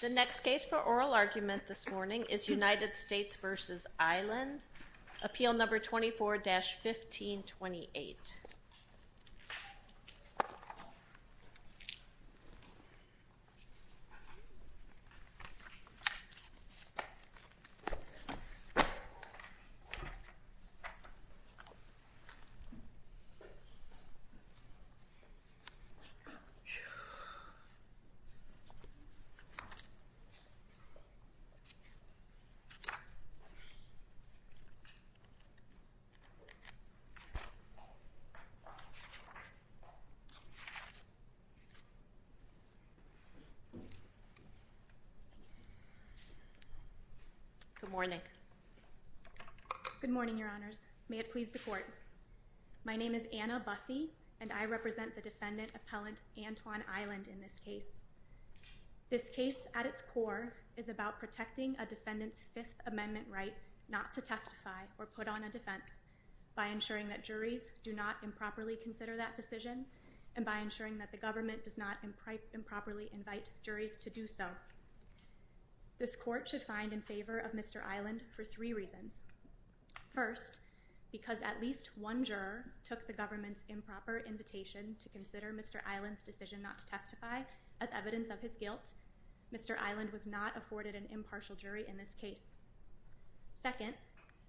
The next case for oral argument this morning is United States v. Eiland, Appeal No. 24-1528. Good morning. Good morning, Your Honors. May it please the Court. My name is Anna Busse, and I represent the defendant appellant Antwan Eiland in this case. This case at its core is about protecting a defendant's Fifth Amendment right not to testify or put on a defense by ensuring that juries do not improperly consider that decision and by ensuring that the government does not improperly invite juries to do so. This Court should find in favor of Mr. Eiland for three reasons. First, because at least one juror took the government's improper invitation to consider Mr. Eiland's decision not to testify as evidence of his guilt, Mr. Eiland was not afforded an impartial jury in this case. Second,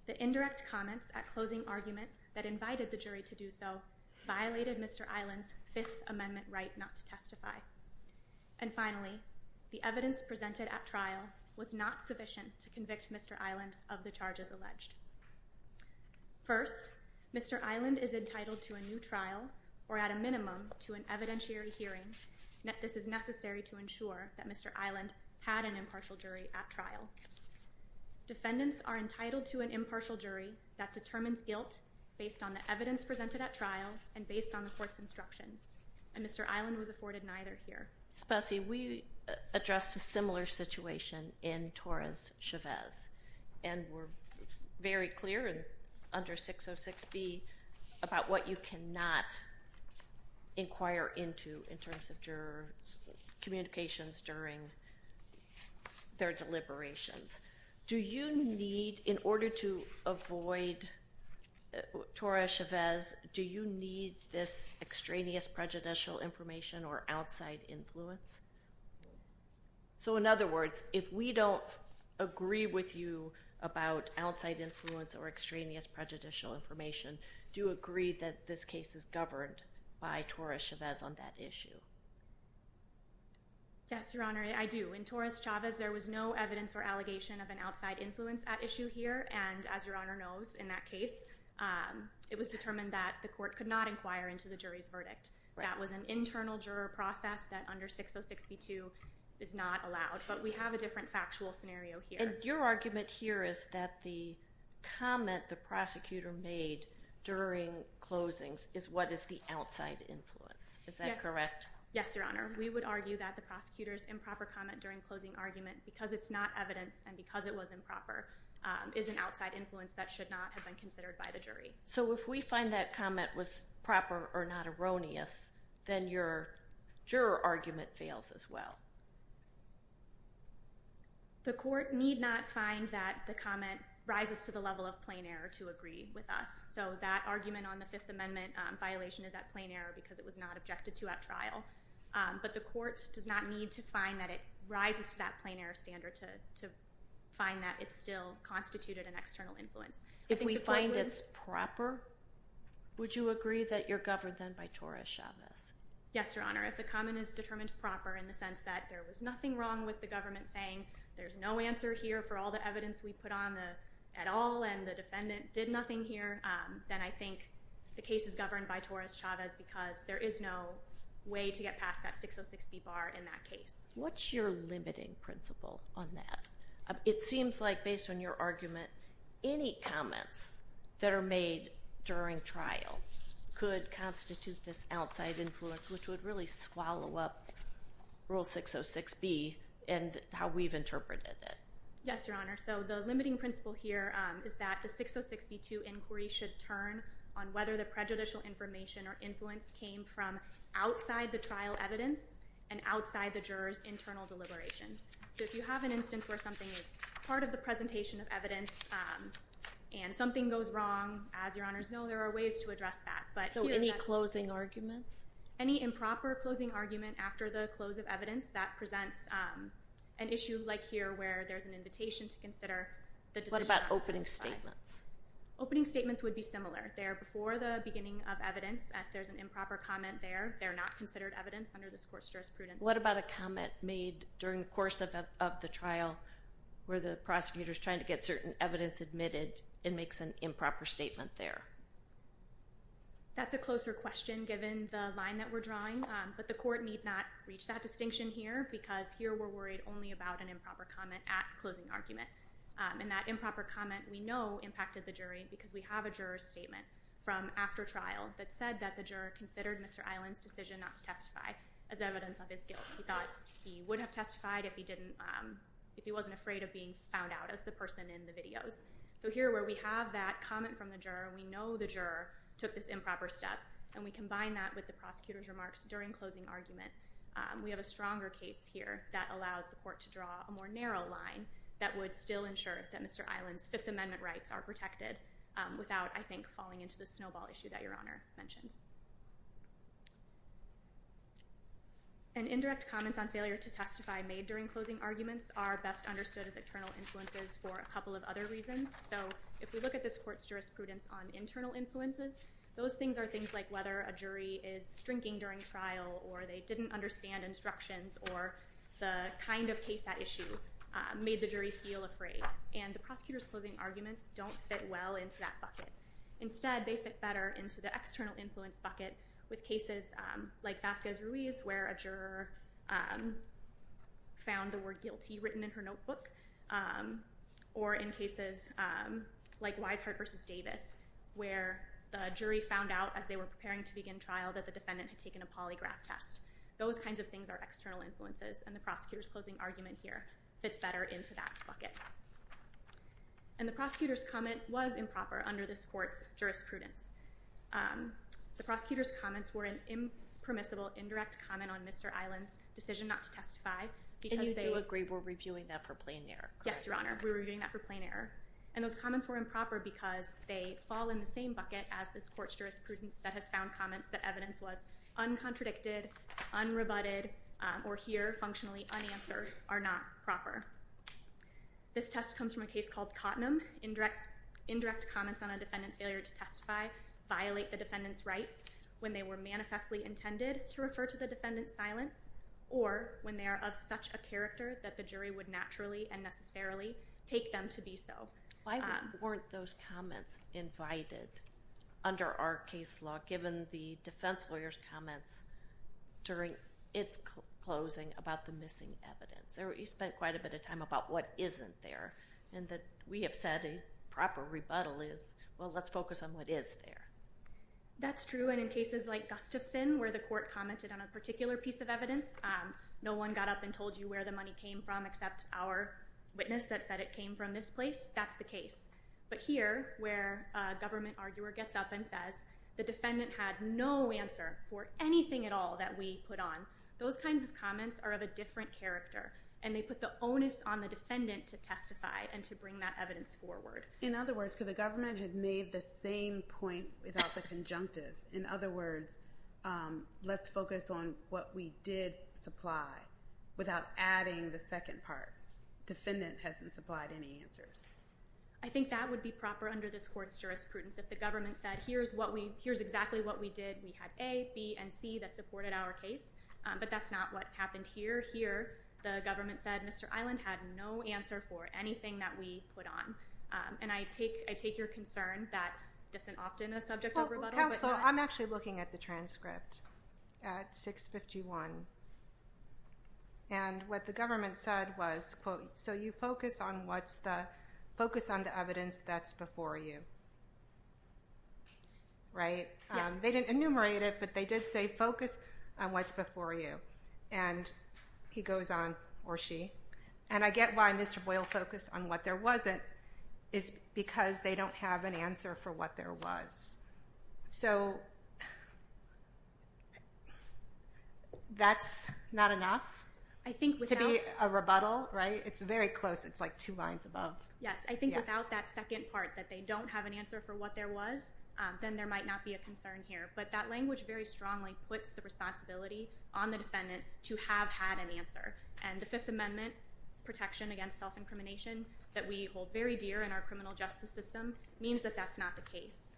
the indirect comments at closing argument that invited the jury to do so violated Mr. Eiland's Fifth Amendment right not to testify. And finally, the evidence presented at trial was not sufficient to convict Mr. Eiland of the charges alleged. First, Mr. Eiland is entitled to a new trial or at a minimum to an evidentiary hearing. This is necessary to ensure that Mr. Eiland had an impartial jury at trial. Defendants are entitled to an impartial jury that determines guilt based on the evidence presented at trial and based on the court's instructions. And Mr. Eiland was afforded neither here. Spessy, we addressed a similar situation in Torres-Chavez, and we're very clear under 606B about what you cannot inquire into in terms of jurors' communications during their deliberations. Do you need, in order to avoid Torres-Chavez, do you need this extraneous prejudicial information or outside influence? So in other words, if we don't agree with you about outside influence or extraneous prejudicial information, do you agree that this case is governed by Torres-Chavez on that issue? Yes, Your Honor, I do. In Torres-Chavez, there was no evidence or allegation of an outside influence at issue here. And as Your Honor knows, in that case, it was determined that the court could not inquire into the jury's verdict. That was an internal juror process that under 606B-2 is not allowed. But we have a different factual scenario here. And your argument here is that the comment the prosecutor made during closings is what is the outside influence. Is that correct? Yes, Your Honor. We would argue that the prosecutor's improper comment during closing argument, because it's not evidence and because it was improper, is an outside influence that should not have been considered by the jury. So if we find that comment was proper or not erroneous, then your juror argument fails as well. The court need not find that the comment rises to the level of plain error to agree with us. So that argument on the Fifth Amendment violation is at plain error because it was not objected to at trial. But the court does not need to find that it rises to that plain error standard to find that it still constituted an external influence. If we find it's proper, would you agree that you're governed then by Torres-Chavez? Yes, Your Honor. If the comment is determined proper in the sense that there was nothing wrong with the government saying there's no answer here for all the evidence we put on at all and the defendant did nothing here, then I think the case is governed by Torres-Chavez because there is no way to get past that 606B bar in that case. What's your limiting principle on that? It seems like based on your argument, any comments that are made during trial could constitute this outside influence, which would really swallow up Rule 606B and how we've interpreted it. Yes, Your Honor. So the limiting principle here is that the 606B2 inquiry should turn on whether the prejudicial information or influence came from outside the trial evidence and outside the jurors internal deliberations. So if you have an instance where something is part of the presentation of evidence and something goes wrong, as Your Honors know, there are ways to address that. So any closing arguments? Any improper closing argument after the close of evidence that presents an issue like here where there's an invitation to consider the decision. What about opening statements? Opening the beginning of evidence. If there's an improper comment there, they're not considered evidence under this Court's jurisprudence. What about a comment made during the course of the trial where the prosecutor is trying to get certain evidence admitted and makes an improper statement there? That's a closer question given the line that we're drawing, but the Court need not reach that distinction here because here we're worried only about an improper comment at closing argument. And that improper comment we know impacted the jury because we have a juror statement from after trial that said that the juror considered Mr. Island's decision not to testify as evidence of his guilt. He thought he wouldn't have testified if he wasn't afraid of being found out as the person in the videos. So here where we have that comment from the juror, we know the juror took this improper step, and we combine that with the prosecutor's remarks during closing argument. We have a stronger case here that allows the Court to draw a more narrow line that would still ensure that Mr. Island's Fifth Amendment rights are protected without, I think, falling into the snowball issue that Your Honor mentioned. And indirect comments on failure to testify made during closing arguments are best understood as internal influences for a couple of other reasons. So if we look at this Court's jurisprudence on internal influences, those things are things like whether a jury is drinking during trial, or they didn't understand instructions, or the kind of case at issue made the jury feel afraid. And the prosecutor's closing arguments don't fit well into that bucket. Instead, they fit better into the external influence bucket with cases like Vasquez-Ruiz, where a juror found the word guilty written in her notebook, or in cases like Wisehart v. Davis, where the jury found out as they were preparing to begin trial that the defendant had taken a polygraph test. Those kinds of things are external influences, and the prosecutor's closing argument here fits better into that bucket. And the prosecutor's comment was improper under this Court's jurisprudence. The prosecutor's comments were an impermissible, indirect comment on Mr. Island's decision not to testify, because they... And you do agree we're reviewing that for plain error, correct? Yes, Your Honor. We're reviewing that for plain error. And those comments were improper because they fall in the same bucket as this Court's jurisprudence that has found comments that evidence was uncontradicted, unrebutted, or here, functionally unanswered, are not proper. This test comes from a case called Cottenham. Indirect comments on a defendant's failure to testify violate the defendant's rights when they were manifestly intended to refer to the defendant's silence, or when they are of such a character that the jury would naturally and necessarily take them to be so. Why weren't those comments invited under our case law, given the defense lawyer's comments during its closing about the missing evidence? You spent quite a bit of time about what isn't there, and that we have said a proper rebuttal is, well, let's focus on what is there. That's true, and in cases like Gustafson, where the Court commented on a particular piece of evidence, no one got up and told you where the came from except our witness that said it came from this place, that's the case. But here, where a government arguer gets up and says the defendant had no answer for anything at all that we put on, those kinds of comments are of a different character, and they put the onus on the defendant to testify and to bring that evidence forward. In other words, could the government have made the same point without the conjunctive? In other words, let's focus on what we did supply without adding the second part. Defendant hasn't supplied any answers. I think that would be proper under this Court's jurisprudence if the government said, here's exactly what we did. We had A, B, and C that supported our case, but that's not what happened here. Here, the government said Mr. Island had no answer for anything that we put on. And I take your concern that that's often a subject of rebuttal, but not- Counsel, I'm actually looking at the transcript at 651. And what the government said was, quote, so you focus on what's the, focus on the evidence that's before you. Right? They didn't enumerate it, but they did say focus on what's before you. And he goes on, or she, and I get why Mr. Boyle focused on what there wasn't, is because they don't have an answer for what there was. So that's not enough to be a rebuttal, right? It's very close. It's like two lines above. Yes. I think without that second part that they don't have an answer for what there was, then there might not be a concern here. But that language very strongly puts the responsibility on the defendant to have had an answer. And the Fifth Amendment protection against self-incrimination that we hold very dear in our criminal justice system means that that's not the case.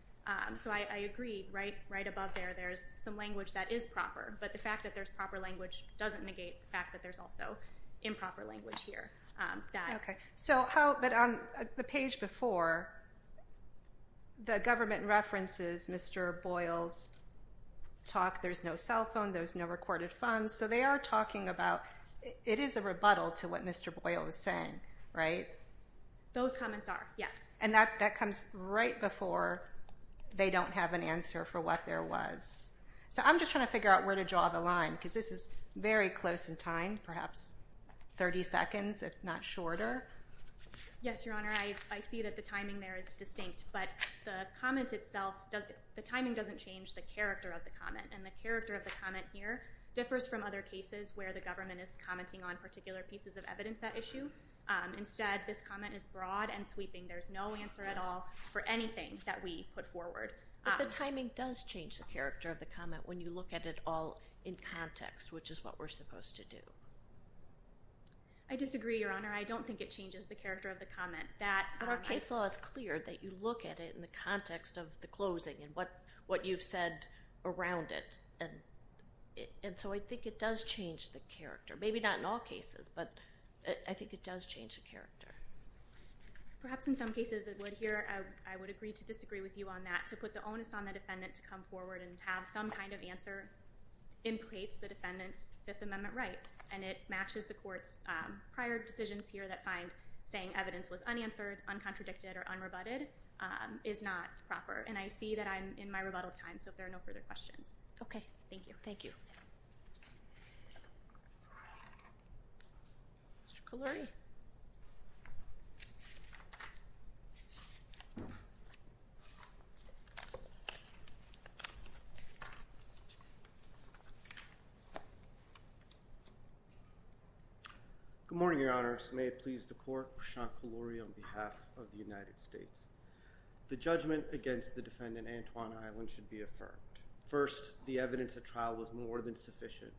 So I agree, right? Right above there, there's some language that is proper. But the fact that there's proper language doesn't negate the fact that there's also improper language here. Okay. So how, but on the page before, the government references Mr. Boyle's talk, there's no cell phone, there's no recorded funds. So they are talking about, it is a rebuttal to what Mr. Boyle was saying, right? Those comments are, yes. And that comes right before they don't have an answer for what there was. So I'm just trying to figure out where to draw the line, because this is very close in time, perhaps 30 seconds, if not shorter. Yes, Your Honor. I see that the timing there is distinct, but the comment itself, the timing doesn't change the character of the comment. And the character of the comment here differs from other cases where the government is commenting on particular pieces of evidence at issue. Instead, this comment is broad and sweeping. There's no answer at all for anything that we put forward. But the timing does change the character of the comment when you look at it all in context, which is what we're supposed to do. I disagree, Your Honor. I don't think it changes the character of the comment. But our case law is clear that you look at it in the context of the closing and what you've said around it. And so I think it does change the character. Maybe not in all cases, but I think it does change the character. Perhaps in some cases it would here. I would agree to disagree with you on that. To put the onus on the defendant to come forward and have some kind of answer implicates the defendant's Fifth Amendment right. And it matches the court's prior decisions here that find saying evidence was unanswered, uncontradicted, or unrebutted is not proper. And I see that I'm in my rebuttal time, so if there are no further questions. Okay. Thank you. Thank you. Thank you. Mr. Kaloury. Good morning, Your Honor. May it please the court. Prashant Kaloury on behalf of the United States. The judgment against the defendant, Antoine Island, should be affirmed. First, the evidence at trial was more than sufficient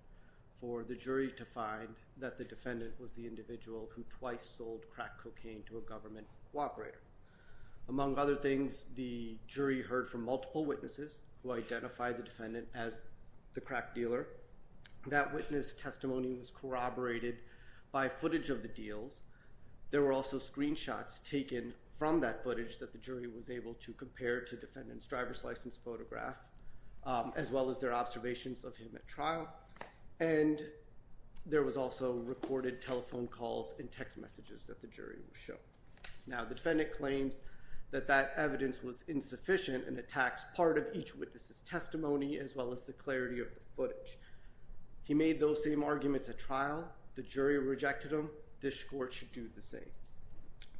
for the jury to find that the defendant was the individual who twice sold crack cocaine to a government cooperator. Among other things, the jury heard from multiple witnesses who identified the defendant as the crack dealer. That witness testimony was corroborated by footage of the deals. There were also screenshots taken from that footage that the jury was able to compare to defendant's driver's license photograph, as well as their observations of him at trial. And there was also recorded telephone calls and text messages that the jury would show. Now, the defendant claims that that evidence was insufficient and attacks part of each witness's testimony, as well as the clarity of the footage. He made those same arguments at trial. The jury rejected them. This court should do the same.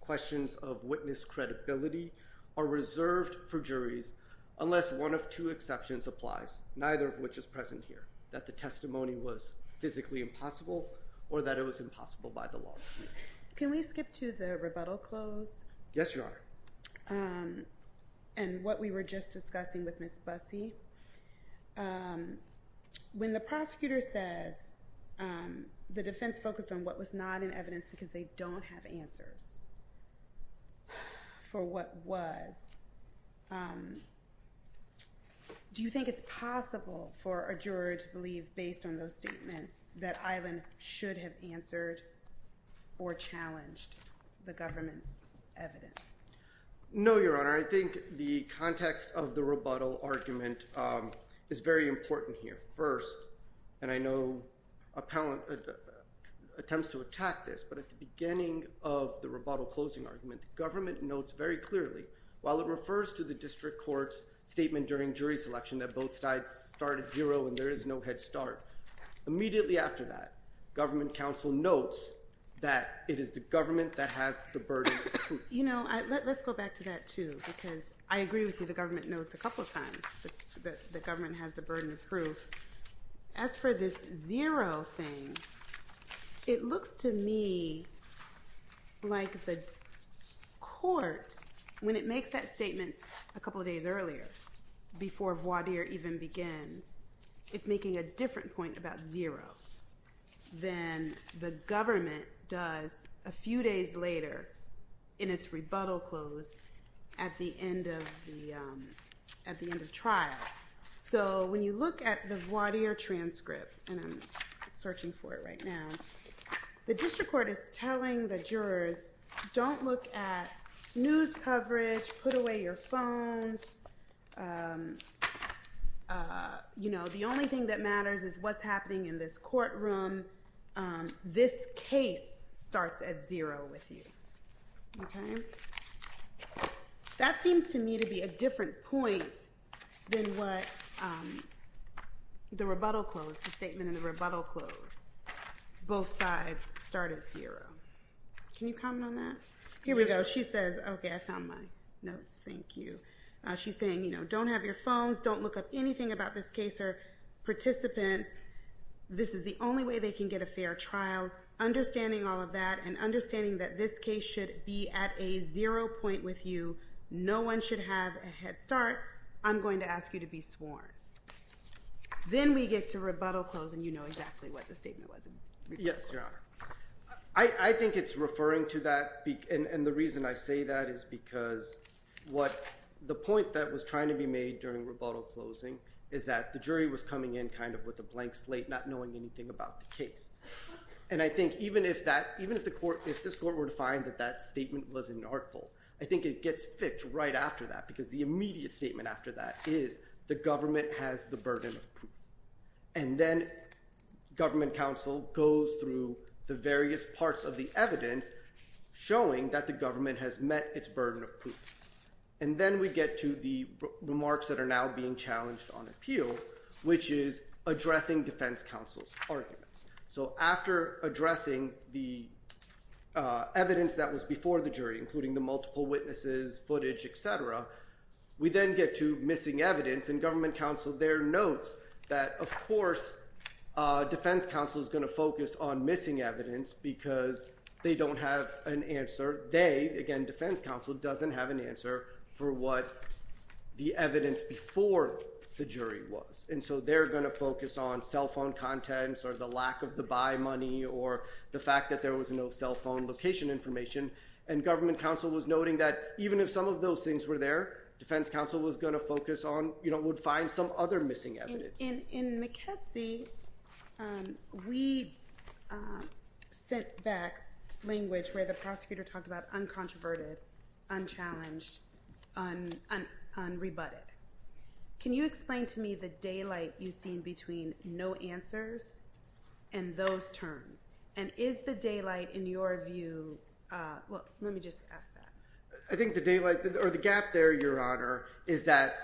Questions of witness credibility are reserved for juries, unless one of two exceptions applies, neither of which is present here, that the testimony was physically impossible or that it was impossible by the law. Can we skip to the rebuttal close? Yes, Your Honor. Um, and what we were just discussing with Ms. Bussey, um, when the prosecutor says, um, the defense focused on what was not in evidence because they don't have answers for what was, um, do you think it's possible for a juror to believe based on those statements that Island should have answered or challenged the government's evidence? No, Your Honor. I think the context of the rebuttal argument, um, is very important here first. And I know a pal, uh, attempts to attack this, but at the beginning of the rebuttal closing argument, the government notes very clearly while it refers to the district court's enduring jury selection, that both sides started zero and there is no headstart. Immediately after that, government counsel notes that it is the government that has the burden of proof. You know, let's go back to that too, because I agree with you. The government notes a couple of times that the government has the burden of proof. As for this zero thing, it looks to me like the court, when it makes that statement a couple of days earlier, before voir dire even begins, it's making a different point about zero than the government does a few days later in its rebuttal close at the end of the, um, at the end of trial. So when you look at the voir dire transcript, and I'm searching for it right now, the district court is telling the jurors, don't look at news coverage, put away your phones, um, uh, you know, the only thing that matters is what's happening in this courtroom. Um, this case starts at zero with you. Okay? That seems to me to be a different point than what, um, the rebuttal close, the statement in the rebuttal close, both sides start at zero. Can you comment on that? Here we go. She says, okay, I found my notes. Thank you. Uh, she's saying, you know, don't have your phones. Don't look up anything about this case or participants. This is the only way they can get a fair trial. Understanding all of that and understanding that this case should be at a zero point with you. No one should have a headstart. I'm going to ask you to be sworn. Then we get to rebuttal close and you know exactly what the statement was. Yes, Your Honor. I think it's referring to that. And the reason I say that is because what the point that was trying to be made during rebuttal closing is that the jury was coming in kind of with a blank slate, not knowing anything about the case. And I think even if that, even if the court, if this court were to find that that statement was an artful, I think it gets fixed right after that because the immediate statement after that is the government has the burden of proof. And then government counsel goes through the various parts of the evidence showing that the government has met its burden of proof. And then we get to the remarks that are now being challenged on appeal, which is addressing defense counsel's arguments. So after addressing the, uh, evidence that was before the jury, including the multiple witnesses, footage, et cetera, we then get to missing evidence and government counsel there notes that of course, uh, defense counsel is going to focus on missing evidence because they don't have an answer. They, again, defense counsel doesn't have an answer for what the evidence before the jury was. And so they're going to focus on cell phone contents or the lack of the buy money or the fact that there was no cell phone location information. And government counsel was noting that even if some of those things were there, defense counsel was going to focus on, you know, would find some other missing evidence. In McKenzie, um, we sent back language where the prosecutor talked about uncontroverted, unchallenged, unrebutted. Can you explain to me the I think the daylight or the gap there, your Honor, is that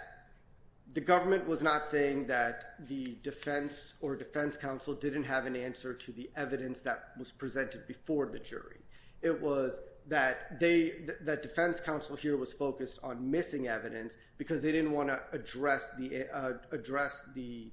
the government was not saying that the defense or defense counsel didn't have an answer to the evidence that was presented before the jury. It was that they, that defense counsel here was focused on missing evidence because they didn't want to address the, uh, address the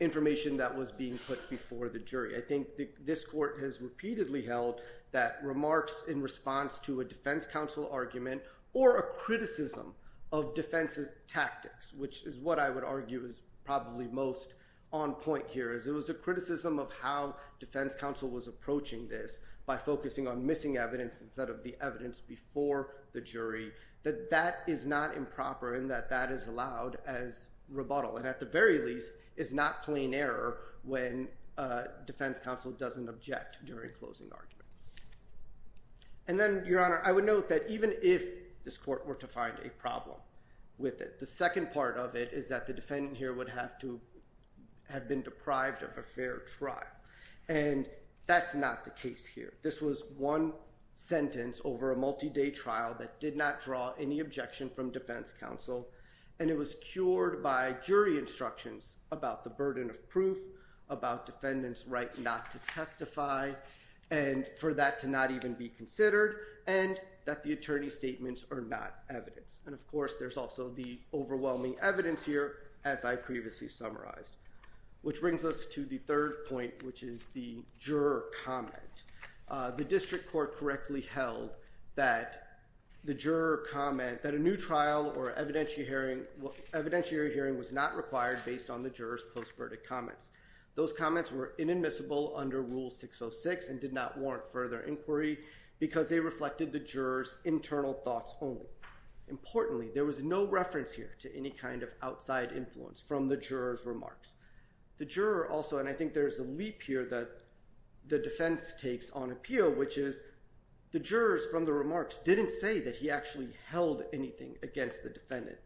information that was being put before the jury. I think this court has repeatedly held that remarks in response to a defense counsel argument or a criticism of defense's tactics, which is what I would argue is probably most on point here is it was a criticism of how defense counsel was approaching this by focusing on missing evidence instead of the evidence before the jury, that that is not improper in that that is allowed as rebuttal. And at the very least is not plain error when a defense counsel doesn't object during closing argument. And then your Honor, I would note that even if this court were to find a case here, this was one sentence over a multi-day trial that did not draw any objection from defense counsel, and it was cured by jury instructions about the burden of proof, about defendant's right not to testify, and for that to not even be considered, and that the attorney's statements are not evidence. And of course, there's also the overwhelming evidence here, as I've previously summarized, which brings us to the third point, which is the juror comment. Uh, the district court correctly held that the juror comment that a new trial or evidentiary hearing was not required based on the juror's post-verdict comments. Those comments were inadmissible under Rule 606 and did not warrant further inquiry because they reflected the juror's internal thoughts only. Importantly, there was no reference here to any kind of outside influence from the juror's remarks. The juror also, and I think there's a leap here that the defense takes on appeal, which is the jurors from the remarks didn't say that he actually held anything against the defendant.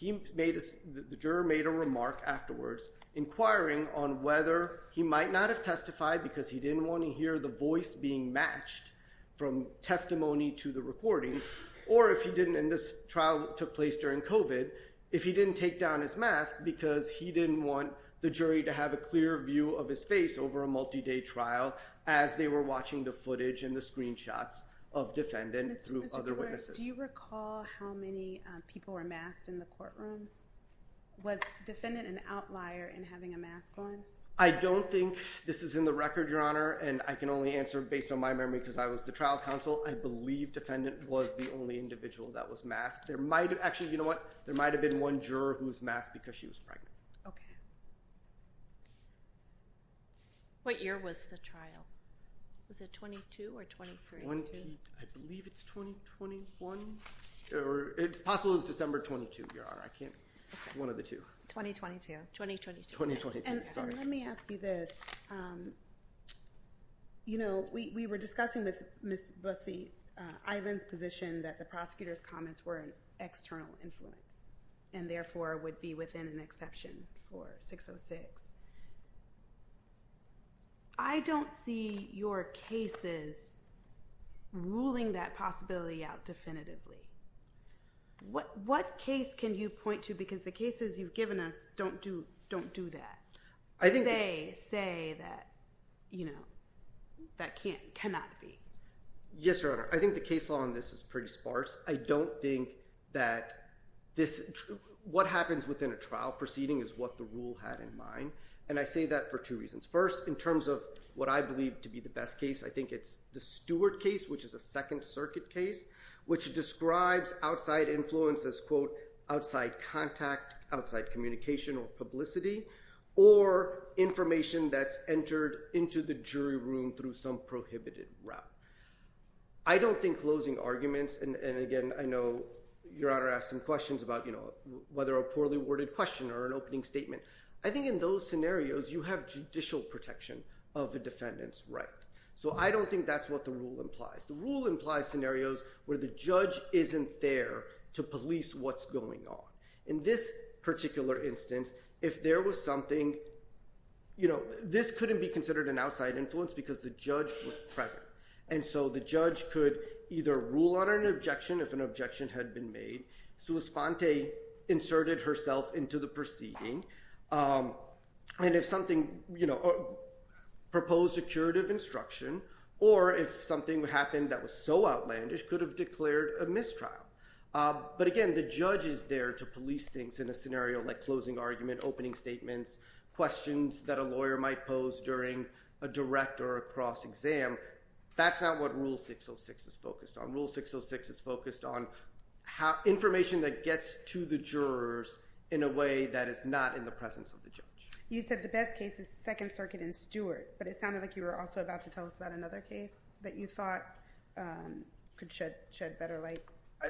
The juror made a remark afterwards inquiring on whether he might not have testified because he didn't want to hear the voice being matched from testimony to the recordings, or if he didn't, and this trial took place during COVID, if he didn't take down his mask because he didn't want the jury to have a clear view of his face over a multi-day trial as they were watching the footage and the screenshots of defendant through other witnesses. Do you recall how many people were masked in the courtroom? Was defendant an outlier in having a mask on? I don't think this is in the record, Your Honor, and I can only answer based on my memory because I was the trial counsel. I believe defendant was the only individual that was masked. There might have actually, you know what, there might have been one juror who was masked because she was pregnant. Okay. What year was the trial? Was it 22 or 23? I believe it's 2021, or it's possible it was December 22, Your Honor. I can't, it's one of the two. 2022, 2022. Let me ask you this. You know, we were discussing with Ms. Bussey-Island's position that the prosecutor's comments were an external influence, and therefore would be within an exception for 606. I don't see your cases ruling that possibility out definitively. What case can you point to, because the cases you've given us don't do that, say that, you know, that cannot be? Yes, Your Honor. I think the case law on this is pretty sparse. I don't think that this, what happens within a trial proceeding is what the rule had in mind, and I say that for two reasons. First, in terms of what I believe to be the best case, I think it's the Stewart case, which is a Second Circuit case, which describes outside influence as, quote, outside contact, outside communication or publicity, or information that's entered into the jury room through some prohibited route. I don't think closing arguments, and again, I know Your Honor asked some questions about, you know, whether a poorly worded question or an opening statement. I think in those scenarios, you have judicial protection of the defendant's right. So I don't think that's what the rule implies. The rule implies scenarios where the judge isn't there to police what's going on. In this particular instance, if there was something, you know, this couldn't be considered an outside influence because the judge was present, and so the judge could either rule on an objection if an objection had been made, Suosponte inserted herself into the proceeding, and if something, you know, proposed a curative instruction, or if something happened that was so outlandish, could have declared a mistrial. But again, the judge is there to police things in a scenario like closing argument, opening statements, questions that a lawyer might pose during a direct or a cross exam. That's not what Rule 606 is focused on. Rule 606 is focused on information that gets to the jurors in a way that is not in the presence of the judge. You said the best case is Second Circuit and Stewart, but it sounded like you were also about to tell us about another case that you thought could shed better light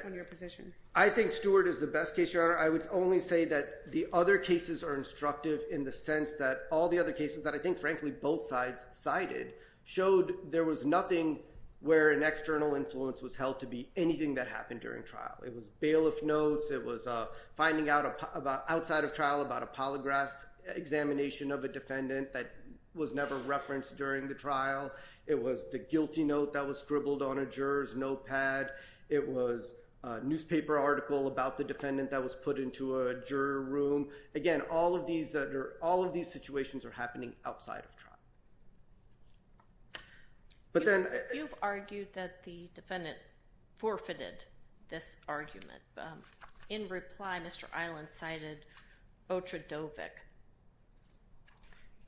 on your position. I think Stewart is the best case, Your Honor. I would only say that the other cases are instructive in the sense that all the other cases, that I think, frankly, both sides cited, showed there was nothing where an external influence was held to be anything that happened during trial. It was bailiff notes. It was finding out outside of trial about a polygraph examination of a defendant that was never referenced during the trial. It was the guilty note that was scribbled on a juror's notepad. It was a newspaper article about the defendant that was put into a juror room. Again, all of these situations are happening outside of trial. You've argued that the defendant forfeited this argument. In reply, Mr. Island cited Otradovic.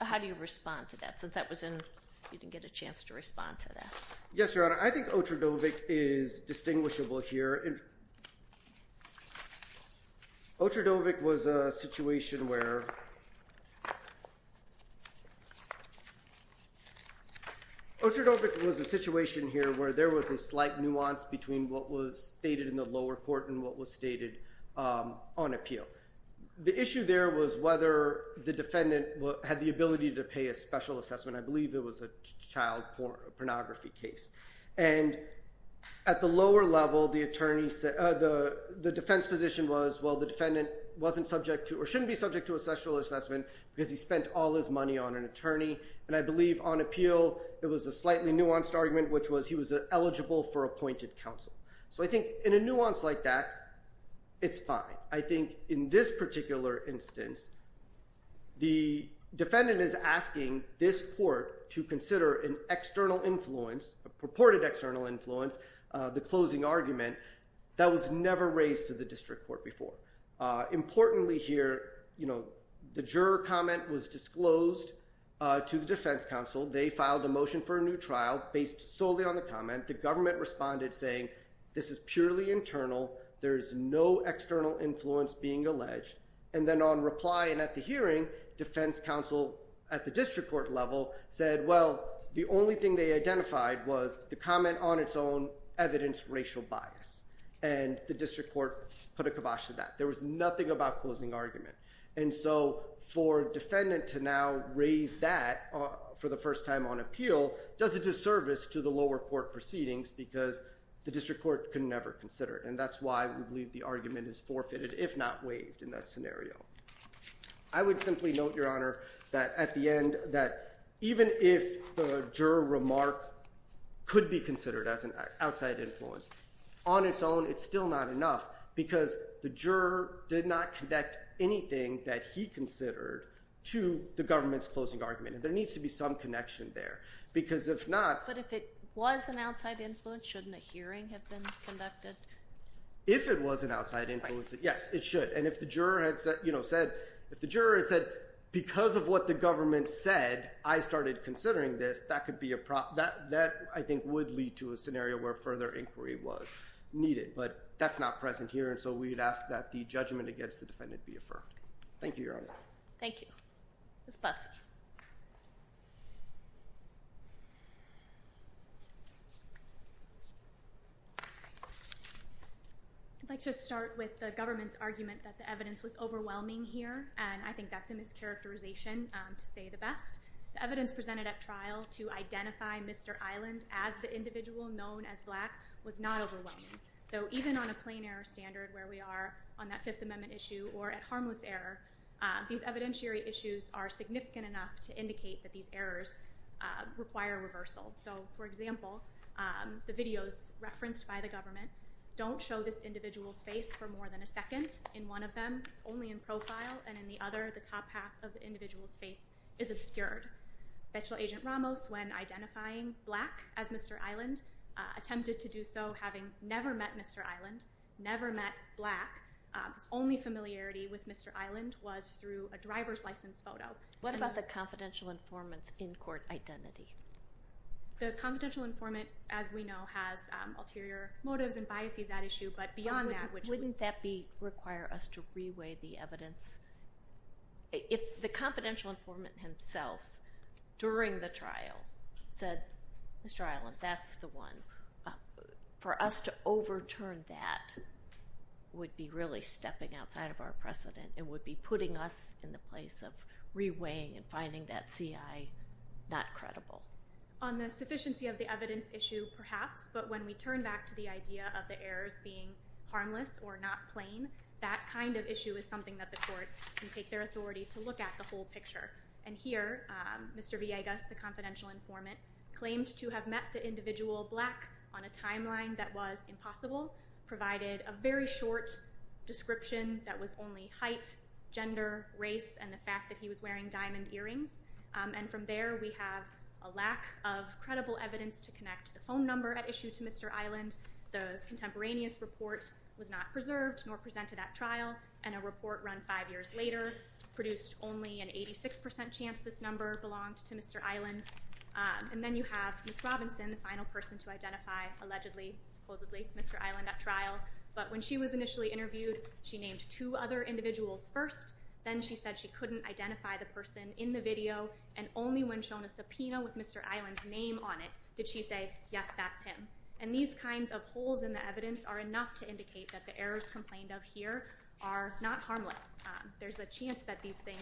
How do you respond to that since you didn't get a chance to respond to that? Yes, Your Honor. I think Otradovic is distinguishable here. Otradovic was a situation where there was a slight nuance between what was stated in the lower court and what was stated on appeal. The issue there was whether the defendant had the ability to pay a special assessment. I believe it was a child pornography case. At the lower level, the defense position was the defendant shouldn't be subject to a special assessment because he spent all his money on an attorney. I believe on appeal, it was a slightly nuanced argument, which was he was eligible for appointed counsel. I think in a nuance like that, it's fine. I think in this particular instance, the defendant is asking this court to consider an external influence, a purported external influence, the closing argument. That was never raised to the district court before. Importantly here, the juror comment was disclosed to the defense counsel. They filed a motion for a new trial based solely on the comment. The government responded saying this is purely internal. There is no external influence being alleged. Then on reply and at the hearing, defense counsel at the district court level said, well, the only thing they identified was the comment on its own evidence racial bias. The district court put a kibosh to that. There was nothing about closing argument. For defendant to now raise that for the first time on appeal does a disservice to the lower court proceedings because the district court can never consider it. That's why we believe the argument is forfeited if not waived in that scenario. I would simply note, Your Honor, that at the end, that even if the juror remark could be considered as an outside influence, on its own, it's still not enough because the juror did not connect anything that he considered to the government's closing argument. There needs to be some connection there. But if it was an outside influence, shouldn't a hearing have been conducted? If it was an outside influence, yes, it should. And if the juror had said, because of what the government said, I started considering this, that could be a problem. That, I think, would lead to a scenario where further inquiry was needed. But that's not present here. And so we'd ask that the judgment against the defendant be affirmed. Thank you, Your Honor. Thank you. Ms. Bussey. I'd like to start with the government's argument that the evidence was overwhelming here. And I think that's a mischaracterization, to say the best. The evidence presented at trial to identify Mr. Island as the individual known as black was not overwhelming. So even on a plain error standard where we are on that Fifth Amendment issue or at harmless error, these evidentiary issues are significant enough to indicate that these errors require reversal. So, for example, the videos referenced by the government don't show this individual's face for more than a second in one of them. It's only in profile. And in the other, the top half of the individual's face is obscured. Special Agent Ramos, when identifying black as Mr. Island, attempted to do so having never met Mr. Island, never met black. His only familiarity with Mr. Island was through a driver's license photo. What about the confidential informant's in-court identity? The confidential informant, as we know, has ulterior motives and biases at issue. But beyond that, which would... Wouldn't that require us to reweigh the evidence? If the confidential informant himself during the trial said, Mr. Island, that's the one, for us to overturn that would be really stepping outside of our precedent. It would be putting us in the place of reweighing and finding that CI not credible. On the sufficiency of the evidence issue, perhaps. But when we turn back to the idea of the errors being harmless or not plain, that kind of issue is something that the court can take their authority to look at the whole picture. And here, Mr. Villegas, the confidential informant, claimed to have met the individual black on a timeline that was impossible, provided a very short description that was only height, gender, race, and the fact that he was wearing diamond earrings. And from there, we have a lack of credible evidence to connect the phone number at issue to Mr. Island. The contemporaneous report was not preserved nor presented at trial. And a report run five years later produced only an 86% chance this number belonged to Mr. Island. And then you have Ms. Robinson, the final person to identify, allegedly, supposedly, Mr. Island at trial. But when she was initially interviewed, she named two other individuals first. Then she said she couldn't identify the person in the video and only when shown a subpoena with Mr. Island's name on it did she say, yes, that's him. And these kinds of holes in the evidence are enough to indicate that the errors complained of here are not harmless. There's a chance that these things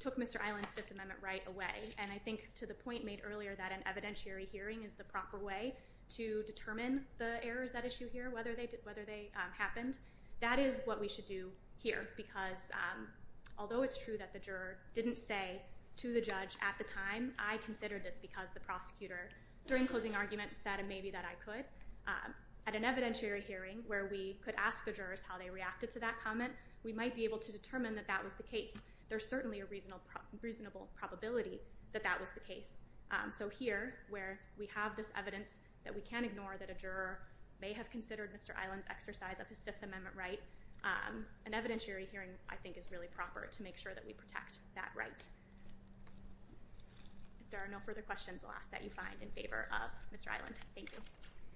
took Mr. Island's Fifth Amendment right away. And I think, to the point made earlier, that an evidentiary hearing is the proper way to determine the errors at issue here, whether they happened. That is what we should do here, because although it's true that the juror didn't say to the judge at the time, I considered this because the prosecutor during closing argument said maybe that I could, at an evidentiary hearing where we could ask the jurors how they reacted to that comment, we might be able to determine that that was the case. There's certainly a reasonable probability that that was the case. So here, where we have this evidence that we can ignore that a juror may have considered Mr. Island's exercise of his Fifth Amendment right, an evidentiary hearing, I think, is really proper to make sure that we protect that right. If there are no further questions, we'll ask that you find in favor of Mr. Island. Thank you.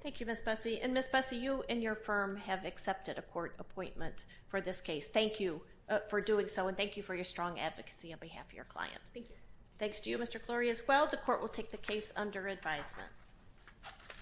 Thank you, Ms. Bussey. And, Ms. Bussey, you and your firm have accepted a court appointment for this case. Thank you for doing so, and thank you for your strong advocacy on behalf of your client. Thank you. Thanks to you, Mr. Clorey, as well. The court will take the case under advisement.